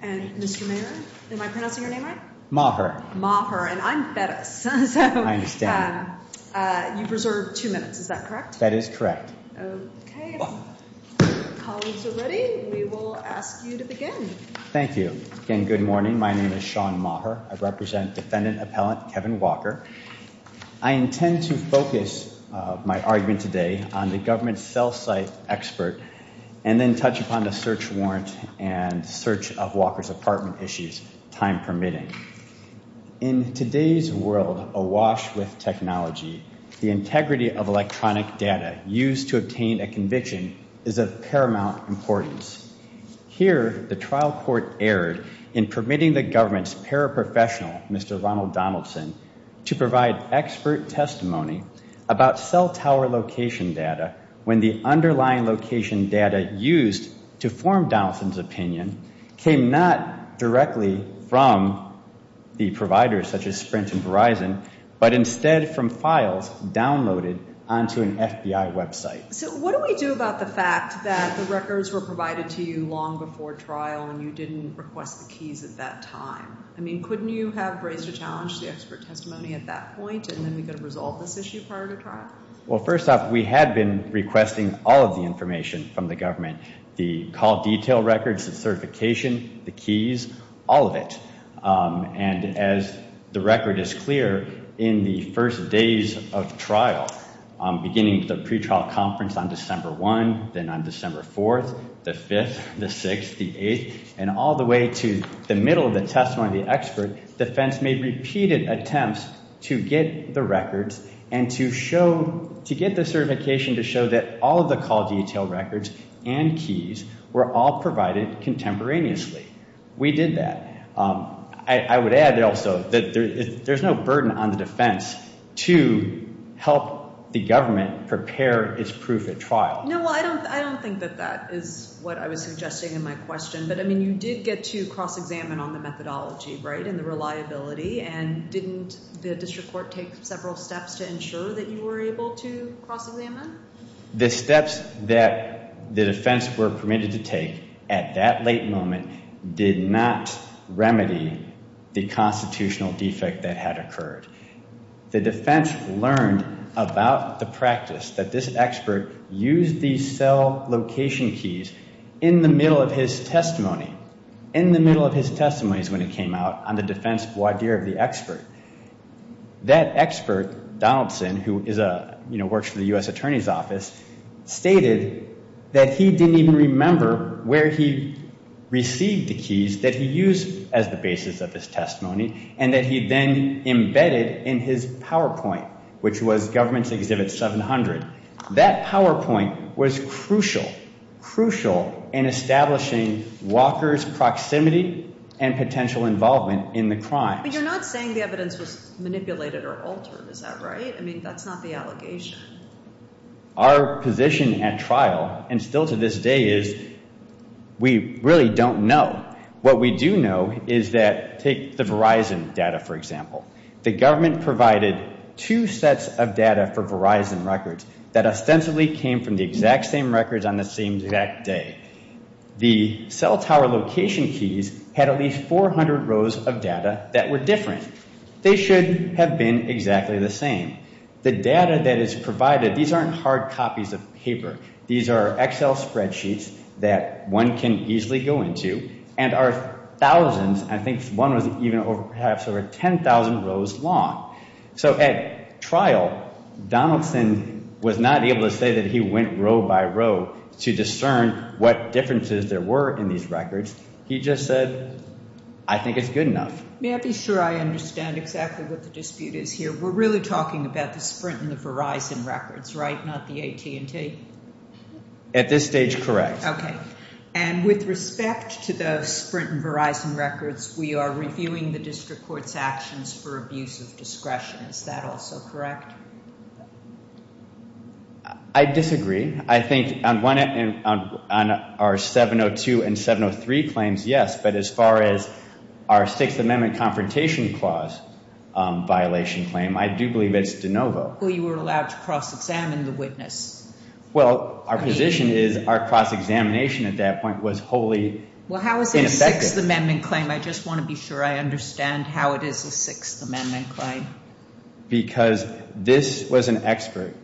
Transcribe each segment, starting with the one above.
and Mr. Mayer. Am I pronouncing your name right? Maher. Maher. And I'm Bettis. I understand. You've reserved two minutes, is that correct? That is correct. Okay. Colleagues are ready. We will ask you to begin. Thank you. Again, good morning. My name is Sean Maher. I represent defendant appellant Kevin Walker. I intend to focus my argument today on the government cell site expert and then touch upon the search warrant and search of Walker's apartment issues, time permitting. In today's world awash with technology, the integrity of electronic data used to obtain a conviction is of paramount importance. Here, the trial court erred in permitting the government's paraprofessional, Mr. Ronald Donaldson, to provide expert testimony about cell tower location data when the underlying location data used to form Donaldson's opinion came not directly from the providers such as Sprint and Verizon, but instead from files downloaded onto an FBI website. So what do we do about the fact that the records were provided to you long before trial and you didn't request the keys at that time? I mean, couldn't you have raised a challenge to the expert testimony at that point and then we could have resolved this issue prior to trial? Well, first off, we had been requesting all of the information from the government, the call detail records, the certification, the keys, all of it. And as the record is clear, in the first days of trial, beginning with the pretrial conference on December 1, then on December 4, the 5th, the 6th, the 8th, and all the way to the middle of the testimony of the expert, defense made repeated attempts to get the records and to show, to get the certification to show that all of the call detail records and keys were all provided contemporaneously. We did that. I would add also that there's no burden on the defense to help the government prepare its proof at trial. No, I don't think that that is what I was suggesting in my question, but I mean, you did get to cross-examine on the methodology, right, and the reliability, and didn't the district court take several steps to ensure that you were able to cross-examine? The steps that the defense were permitted to take at that late moment did not remedy the constitutional defect that had occurred. The defense learned about the practice that this expert used these cell location keys in the middle of his testimony. In the middle of his testimony is when it came out on the defense voir dire of the expert. That expert, Donaldson, who is a, you know, works for the U.S. Attorney's Office, stated that he didn't even remember where he received the keys that he used as the basis of his testimony and that he then embedded in his PowerPoint, which was Government's Exhibit 700. That PowerPoint was crucial, crucial in establishing Walker's proximity and potential involvement in the crime. But you're not saying the evidence was manipulated or altered, is that right? I mean, that's not the allegation. Our position at trial, and still to this day, is we really don't know. What we do know is that, take the Verizon data, for example. The government provided two sets of data for Verizon records that ostensibly came from the exact same records on the same exact day. The cell tower location keys had at least 400 rows of data that were different. They should have been exactly the same. The data that is provided, these aren't hard copies of paper. These are Excel spreadsheets that one can easily go into and are thousands, and I think one was even perhaps over 10,000 rows long. So at trial, Donaldson was not able to say that he went row by row to discern what differences there were in these records. He just said, I think it's good enough. May I be sure I understand exactly what the dispute is here? We're really talking about the Sprint and the Verizon records, right, not the AT&T? At this stage, correct. And with respect to the Sprint and Verizon records, we are reviewing the district court's actions for abuse of discretion. Is that also correct? I disagree. I think on our 702 and 703 claims, yes. But as far as our Sixth Amendment Confrontation Clause violation claim, I do believe it's de novo. Well, you were allowed to cross-examine the witness. Well, our position is our cross-examination at that point was wholly ineffective. Well, how is it a Sixth Amendment claim? I just want to be sure I understand how it is a Sixth Amendment claim. Because this was an expert,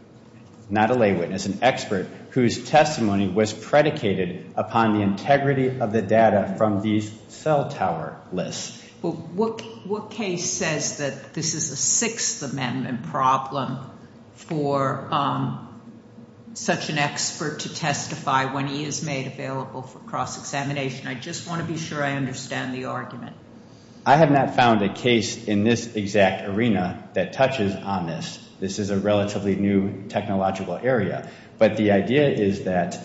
not a lay witness, an expert whose testimony was predicated upon the integrity of the data from these cell tower lists. Well, what case says that this is a Sixth Amendment problem for such an expert to testify when he is made available for cross-examination? I just want to be sure I understand the argument. I have not found a case in this exact arena that touches on this. This is a relatively new technological area. But the idea is that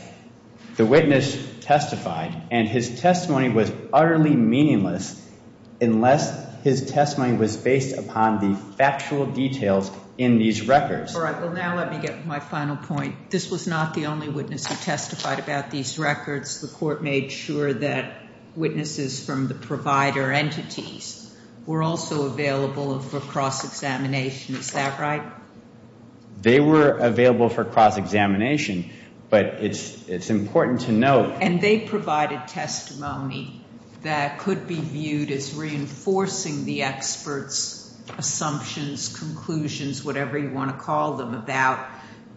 the witness testified, and his testimony was utterly meaningless unless his testimony was based upon the factual details in these records. All right. Well, now let me get to my final point. This was not the only witness who testified about these records. The court made sure that witnesses from the provider entities were also available for cross-examination. Is that right? They were available for cross-examination, but it's important to note— And they provided testimony that could be viewed as reinforcing the experts' assumptions, conclusions, whatever you want to call them, about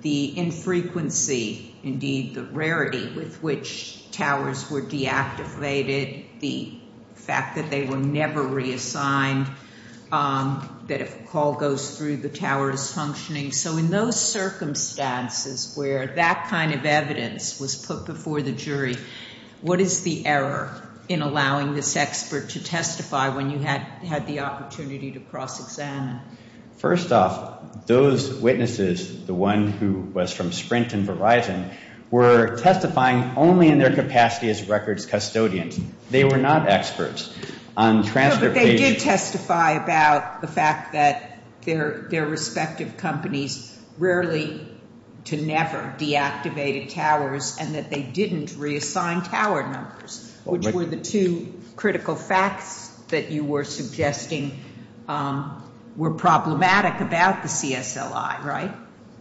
the infrequency, indeed the rarity, with which towers were deactivated, the fact that they were never reassigned, that if a call goes through, the tower is functioning. So in those circumstances where that kind of evidence was put before the jury, what is the error in allowing this expert to testify when you had the opportunity to cross-examine? First off, those witnesses, the one who was from Sprint and Verizon, were testifying only in their capacity as records custodians. They were not experts. No, but they did testify about the fact that their respective companies rarely to never deactivated towers and that they didn't reassign tower numbers, which were the two critical facts that you were suggesting were problematic about the CSLI, right?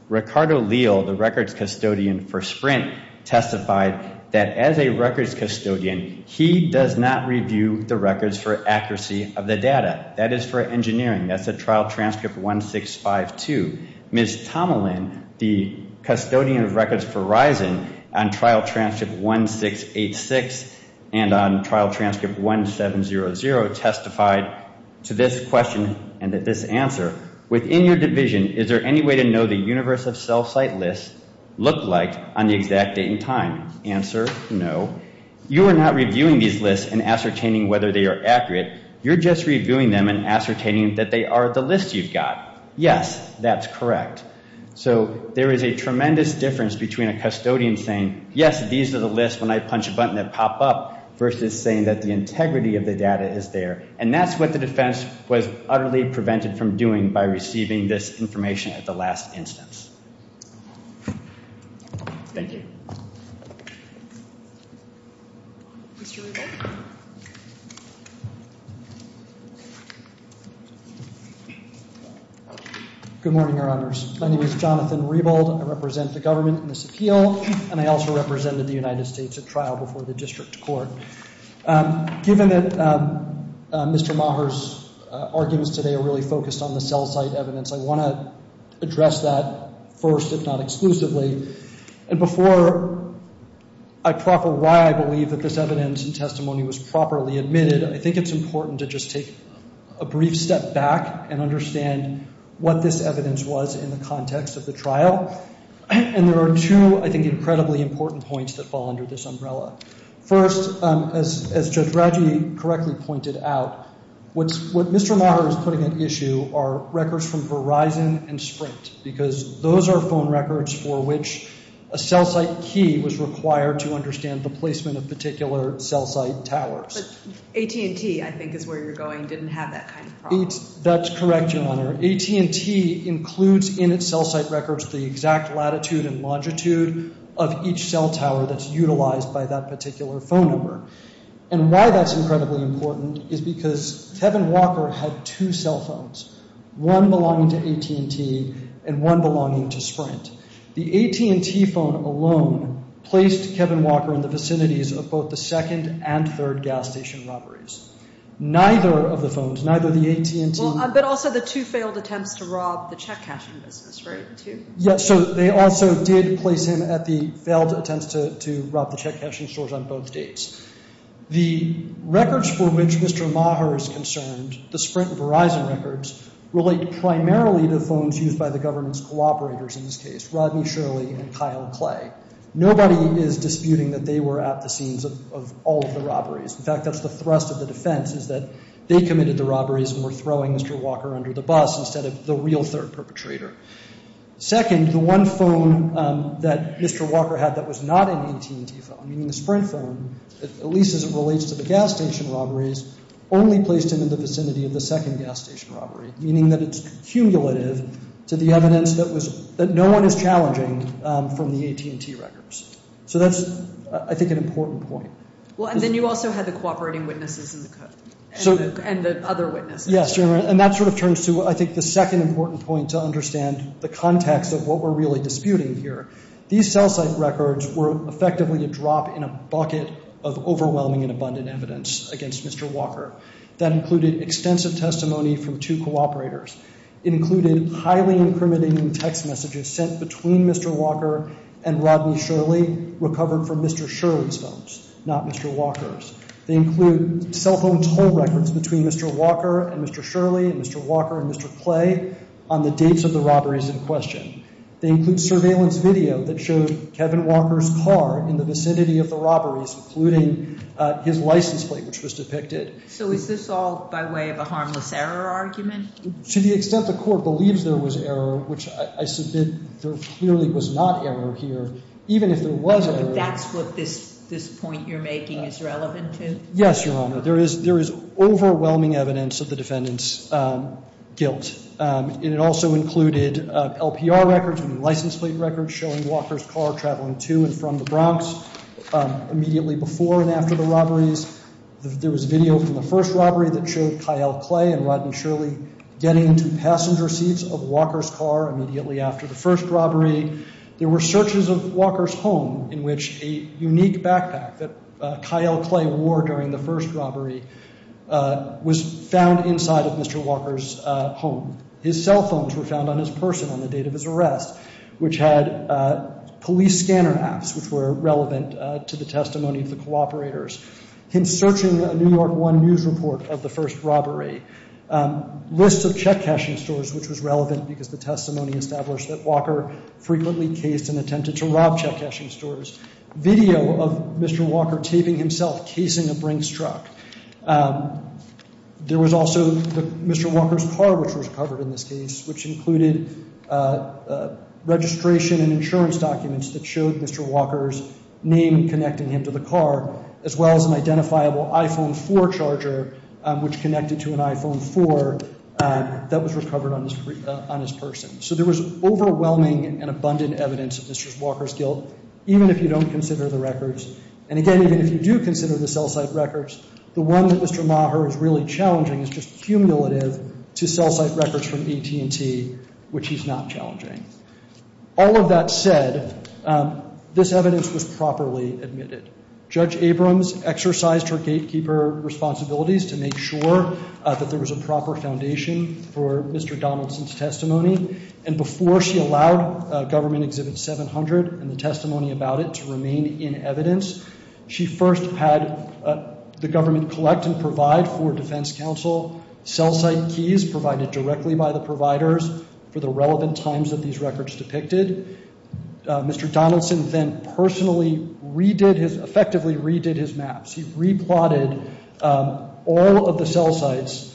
Ricardo Leal, the records custodian for Sprint, testified that as a records custodian, he does not review the records for accuracy of the data. That is for engineering. That's a Trial Transcript 1652. Ms. Tomalin, the custodian of records for Verizon on Trial Transcript 1686 and on Trial Transcript 1700, testified to this question and to this answer. Within your division, is there any way to know the universe of cell site lists look like on the exact date and time? Answer, no. You are not reviewing these lists and ascertaining whether they are accurate. You're just reviewing them and ascertaining that they are the list you've got. Yes, that's correct. So there is a tremendous difference between a custodian saying, yes, these are the lists when I punch a button that pop up, versus saying that the integrity of the data is there. And that's what the defense was utterly prevented from doing by receiving this information at the last instance. Thank you. Mr. Rebold. Good morning, Your Honors. My name is Jonathan Rebold. I represent the government in this appeal, and I also represented the United States at trial before the district court. Given that Mr. Maher's arguments today are really focused on the cell site evidence, I want to address that first, if not exclusively. And before I proffer why I believe that this evidence and testimony was properly admitted, I think it's important to just take a brief step back and understand what this evidence was in the context of the trial. And there are two, I think, incredibly important points that fall under this umbrella. First, as Judge Radji correctly pointed out, what Mr. Maher is putting at issue are records from Verizon and Sprint, because those are phone records for which a cell site key was required to understand the placement of particular cell site towers. But AT&T, I think, is where you're going, didn't have that kind of problem. That's correct, Your Honor. AT&T includes in its cell site records the exact latitude and longitude of each cell tower that's utilized by that particular phone number. And why that's incredibly important is because Kevin Walker had two cell phones, one belonging to AT&T and one belonging to Sprint. The AT&T phone alone placed Kevin Walker in the vicinities of both the second and third gas station robberies. Neither of the phones, neither the AT&T. But also the two failed attempts to rob the check cashing business, right? Yes, so they also did place him at the failed attempts to rob the check cashing stores on both dates. The records for which Mr. Maher is concerned, the Sprint and Verizon records, relate primarily to the phones used by the government's cooperators in this case, Rodney Shirley and Kyle Clay. Nobody is disputing that they were at the scenes of all of the robberies. In fact, that's the thrust of the defense is that they committed the robberies and were throwing Mr. Walker under the bus instead of the real third perpetrator. Second, the one phone that Mr. Walker had that was not an AT&T phone, meaning the Sprint phone, at least as it relates to the gas station robberies, only placed him in the vicinity of the second gas station robbery, meaning that it's cumulative to the evidence that no one is challenging from the AT&T records. So that's, I think, an important point. Well, and then you also had the cooperating witnesses and the other witnesses. Yes, and that sort of turns to, I think, the second important point to understand the context of what we're really disputing here. These cell site records were effectively a drop in a bucket of overwhelming and abundant evidence against Mr. Walker. That included extensive testimony from two cooperators. It included highly incriminating text messages sent between Mr. Walker and Rodney Shirley recovered from Mr. Shirley's phones, not Mr. Walker's. They include cell phone toll records between Mr. Walker and Mr. Shirley and Mr. Walker and Mr. Clay on the dates of the robberies in question. They include surveillance video that showed Kevin Walker's car in the vicinity of the robberies, including his license plate, which was depicted. So is this all by way of a harmless error argument? To the extent the Court believes there was error, which I submit there clearly was not error here, even if there was error. But that's what this point you're making is relevant to? Yes, Your Honor. There is overwhelming evidence of the defendant's guilt. It also included LPR records and license plate records showing Walker's car traveling to and from the Bronx immediately before and after the robberies. There was video from the first robbery that showed Kyle Clay and Rodney Shirley getting to passenger seats of Walker's car immediately after the first robbery. There were searches of Walker's home in which a unique backpack that Kyle Clay wore during the first robbery was found inside of Mr. Walker's home. His cell phones were found on his person on the date of his arrest, which had police scanner apps, which were relevant to the testimony of the cooperators. Him searching a New York One News report of the first robbery. Lists of check cashing stores, which was relevant because the testimony established that Walker frequently cased and attempted to rob check cashing stores. Video of Mr. Walker taping himself casing a Bronx truck. There was also Mr. Walker's car, which was covered in this case, which included registration and insurance documents that showed Mr. Walker's name connecting him to the car, as well as an identifiable iPhone 4 charger, which connected to an iPhone 4 that was recovered on his person. So there was overwhelming and abundant evidence of Mr. Walker's guilt, even if you don't consider the records. And again, even if you do consider the cell site records, the one that Mr. Maher is really challenging is just cumulative to cell site records from AT&T, which he's not challenging. All of that said, this evidence was properly admitted. Judge Abrams exercised her gatekeeper responsibilities to make sure that there was a proper foundation for Mr. Donaldson's testimony, and before she allowed Government Exhibit 700 and the testimony about it to remain in evidence, she first had the government collect and provide for Defense Counsel cell site keys provided directly by the providers for the relevant times that these records depicted. Mr. Donaldson then personally redid his, effectively redid his maps. He re-plotted all of the cell sites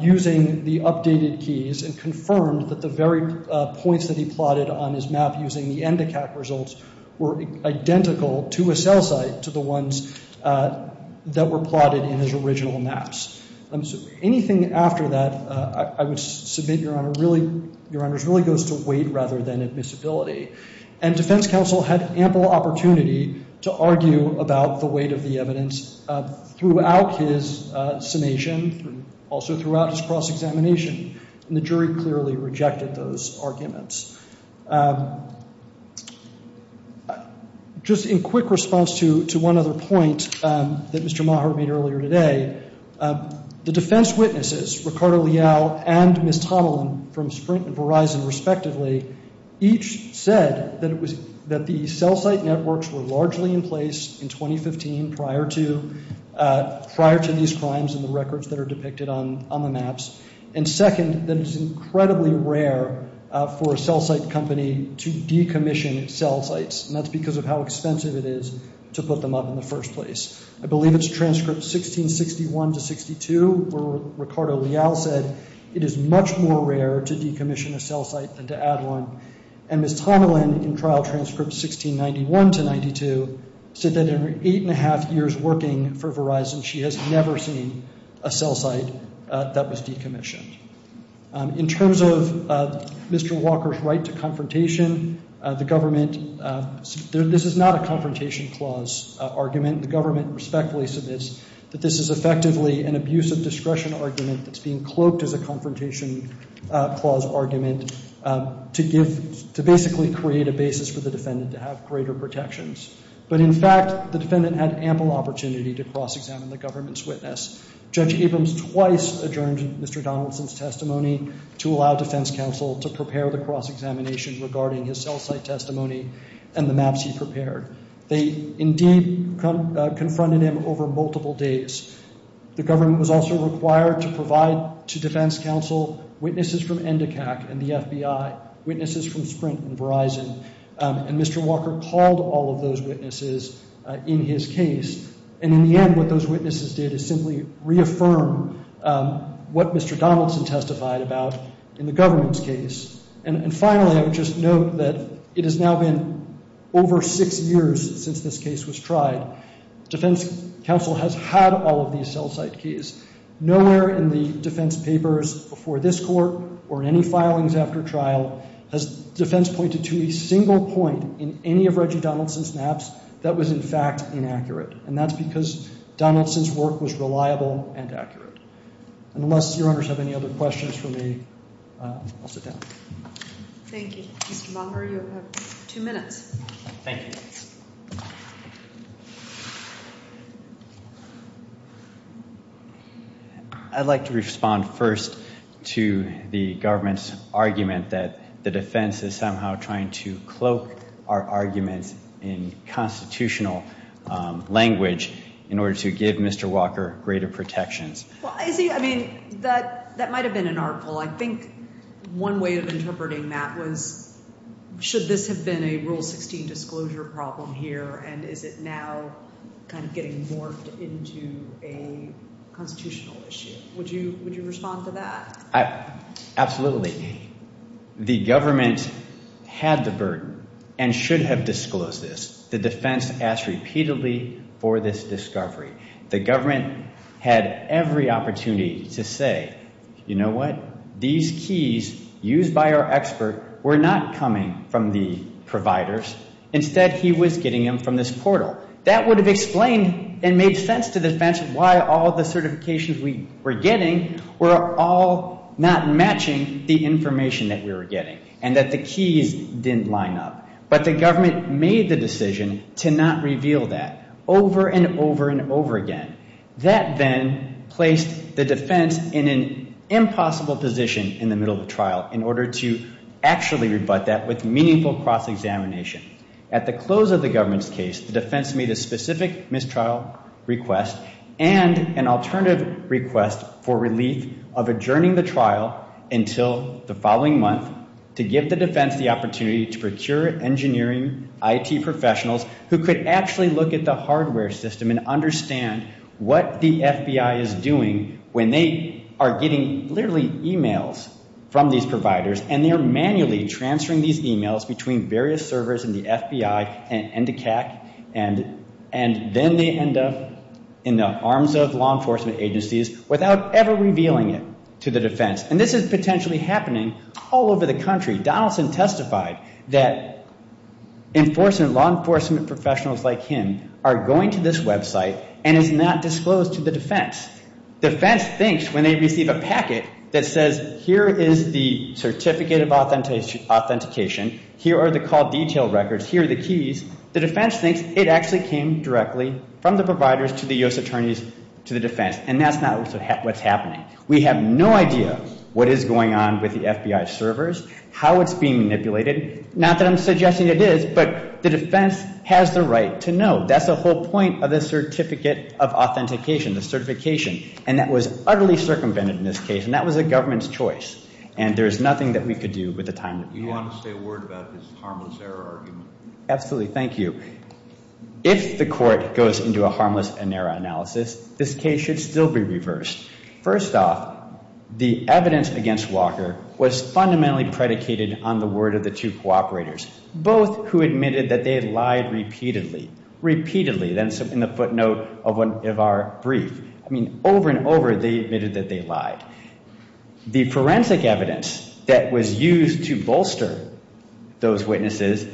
using the updated keys and confirmed that the very points that he plotted on his map using the ENDACAC results were identical to a cell site to the ones that were plotted in his original maps. Anything after that, I would submit, Your Honor, really goes to weight rather than admissibility. And Defense Counsel had ample opportunity to argue about the weight of the evidence throughout his summation, also throughout his cross-examination, and the jury clearly rejected those arguments. Just in quick response to one other point that Mr. Maher made earlier today, the defense witnesses, Ricardo Leal and Ms. Tomalin from Sprint and Verizon respectively, each said that the cell site networks were largely in place in 2015 prior to these crimes and the records that are depicted on the maps. And second, that it's incredibly rare for a cell site company to decommission cell sites, and that's because of how expensive it is to put them up in the first place. I believe it's transcript 1661 to 62 where Ricardo Leal said it is much more rare to decommission a cell site than to add one. And Ms. Tomalin, in trial transcript 1691 to 92, said that in her eight and a half years working for Verizon, she has never seen a cell site that was decommissioned. In terms of Mr. Walker's right to confrontation, the government, this is not a confrontation clause argument. The government respectfully submits that this is effectively an abuse of discretion argument that's being cloaked as a confrontation clause argument to basically create a basis for the defendant to have greater protections. But in fact, the defendant had ample opportunity to cross-examine the government's witness. Judge Abrams twice adjourned Mr. Donaldson's testimony to allow defense counsel to prepare the cross-examination regarding his cell site testimony and the maps he prepared. They indeed confronted him over multiple days. The government was also required to provide to defense counsel witnesses from ENDACAC and the FBI, witnesses from Sprint and Verizon, and Mr. Walker called all of those witnesses in his case. And in the end, what those witnesses did is simply reaffirm what Mr. Donaldson testified about in the government's case. And finally, I would just note that it has now been over six years since this case was tried. Defense counsel has had all of these cell site keys. Nowhere in the defense papers before this court or in any filings after trial has defense pointed to a single point in any of Reggie Donaldson's maps that was in fact inaccurate, and that's because Donaldson's work was reliable and accurate. Unless your honors have any other questions for me, I'll sit down. Thank you. Mr. Walker, you have two minutes. Thank you. I'd like to respond first to the government's argument that the defense is somehow trying to cloak our arguments in constitutional language in order to give Mr. Walker greater protections. Well, Izzy, I mean, that might have been an artful. I think one way of interpreting that was should this have been a Rule 16 disclosure problem here and is it now kind of getting morphed into a constitutional issue? Would you respond to that? Absolutely. The government had the burden and should have disclosed this. The defense asked repeatedly for this discovery. The government had every opportunity to say, you know what? These keys used by our expert were not coming from the providers. Instead, he was getting them from this portal. That would have explained and made sense to the defense why all the certifications we were getting were all not matching the information that we were getting and that the keys didn't line up. But the government made the decision to not reveal that over and over and over again. That then placed the defense in an impossible position in the middle of the trial in order to actually rebut that with meaningful cross-examination. At the close of the government's case, the defense made a specific mistrial request and an alternative request for relief of adjourning the trial until the following month to give the defense the opportunity to procure engineering IT professionals who could actually look at the hardware system and understand what the FBI is doing when they are getting literally e-mails from these providers and they are manually transferring these e-mails between various servers in the FBI and the CAC and then they end up in the arms of law enforcement agencies without ever revealing it to the defense. And this is potentially happening all over the country. Donaldson testified that law enforcement professionals like him are going to this website and is not disclosed to the defense. The defense thinks when they receive a packet that says here is the certificate of authentication, here are the call detail records, here are the keys, the defense thinks it actually came directly from the providers to the U.S. attorneys to the defense. And that's not what's happening. We have no idea what is going on with the FBI servers, how it's being manipulated. Not that I'm suggesting it is, but the defense has the right to know. That's the whole point of the certificate of authentication, the certification. And that was utterly circumvented in this case. And that was the government's choice. And there is nothing that we could do with the time that we have. Do you want to say a word about this harmless error argument? Absolutely. Thank you. If the court goes into a harmless error analysis, this case should still be reversed. First off, the evidence against Walker was fundamentally predicated on the word of the two cooperators, both who admitted that they had lied repeatedly. Repeatedly, that's in the footnote of our brief. I mean, over and over they admitted that they lied. The forensic evidence that was used to bolster those witnesses,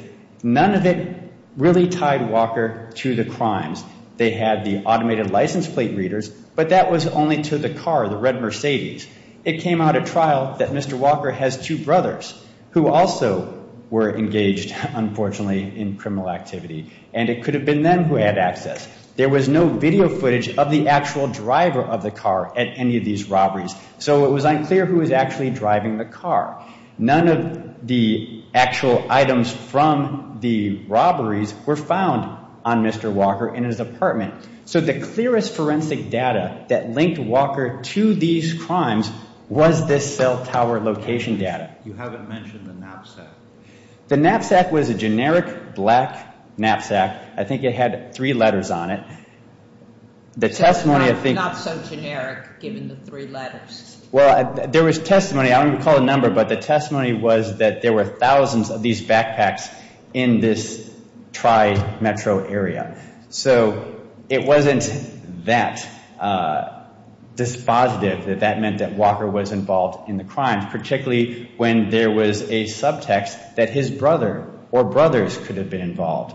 none of it really tied Walker to the crimes. They had the automated license plate readers, but that was only to the car, the red Mercedes. It came out at trial that Mr. Walker has two brothers who also were engaged, unfortunately, in criminal activity. And it could have been them who had access. There was no video footage of the actual driver of the car at any of these robberies. So it was unclear who was actually driving the car. None of the actual items from the robberies were found on Mr. Walker in his apartment. So the clearest forensic data that linked Walker to these crimes was this cell tower location data. You haven't mentioned the knapsack. The knapsack was a generic black knapsack. I think it had three letters on it. So not so generic, given the three letters. Well, there was testimony. I won't even call a number, but the testimony was that there were thousands of these backpacks in this tri-metro area. So it wasn't that dispositive that that meant that Walker was involved in the crimes, particularly when there was a subtext that his brother or brothers could have been involved.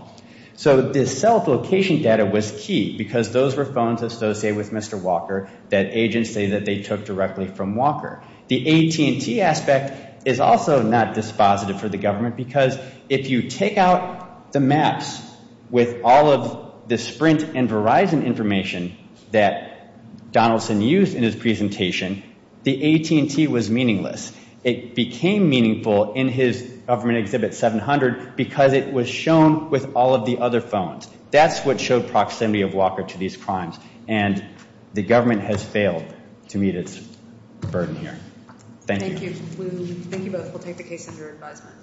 So this cell location data was key because those were phones associated with Mr. Walker that agents say that they took directly from Walker. The AT&T aspect is also not dispositive for the government because if you take out the maps with all of the Sprint and Verizon information that Donaldson used in his presentation, the AT&T was meaningless. It became meaningful in his government exhibit 700 because it was shown with all of the other phones. That's what showed proximity of Walker to these crimes. And the government has failed to meet its burden here. Thank you. Thank you both. We'll take the case under advisement.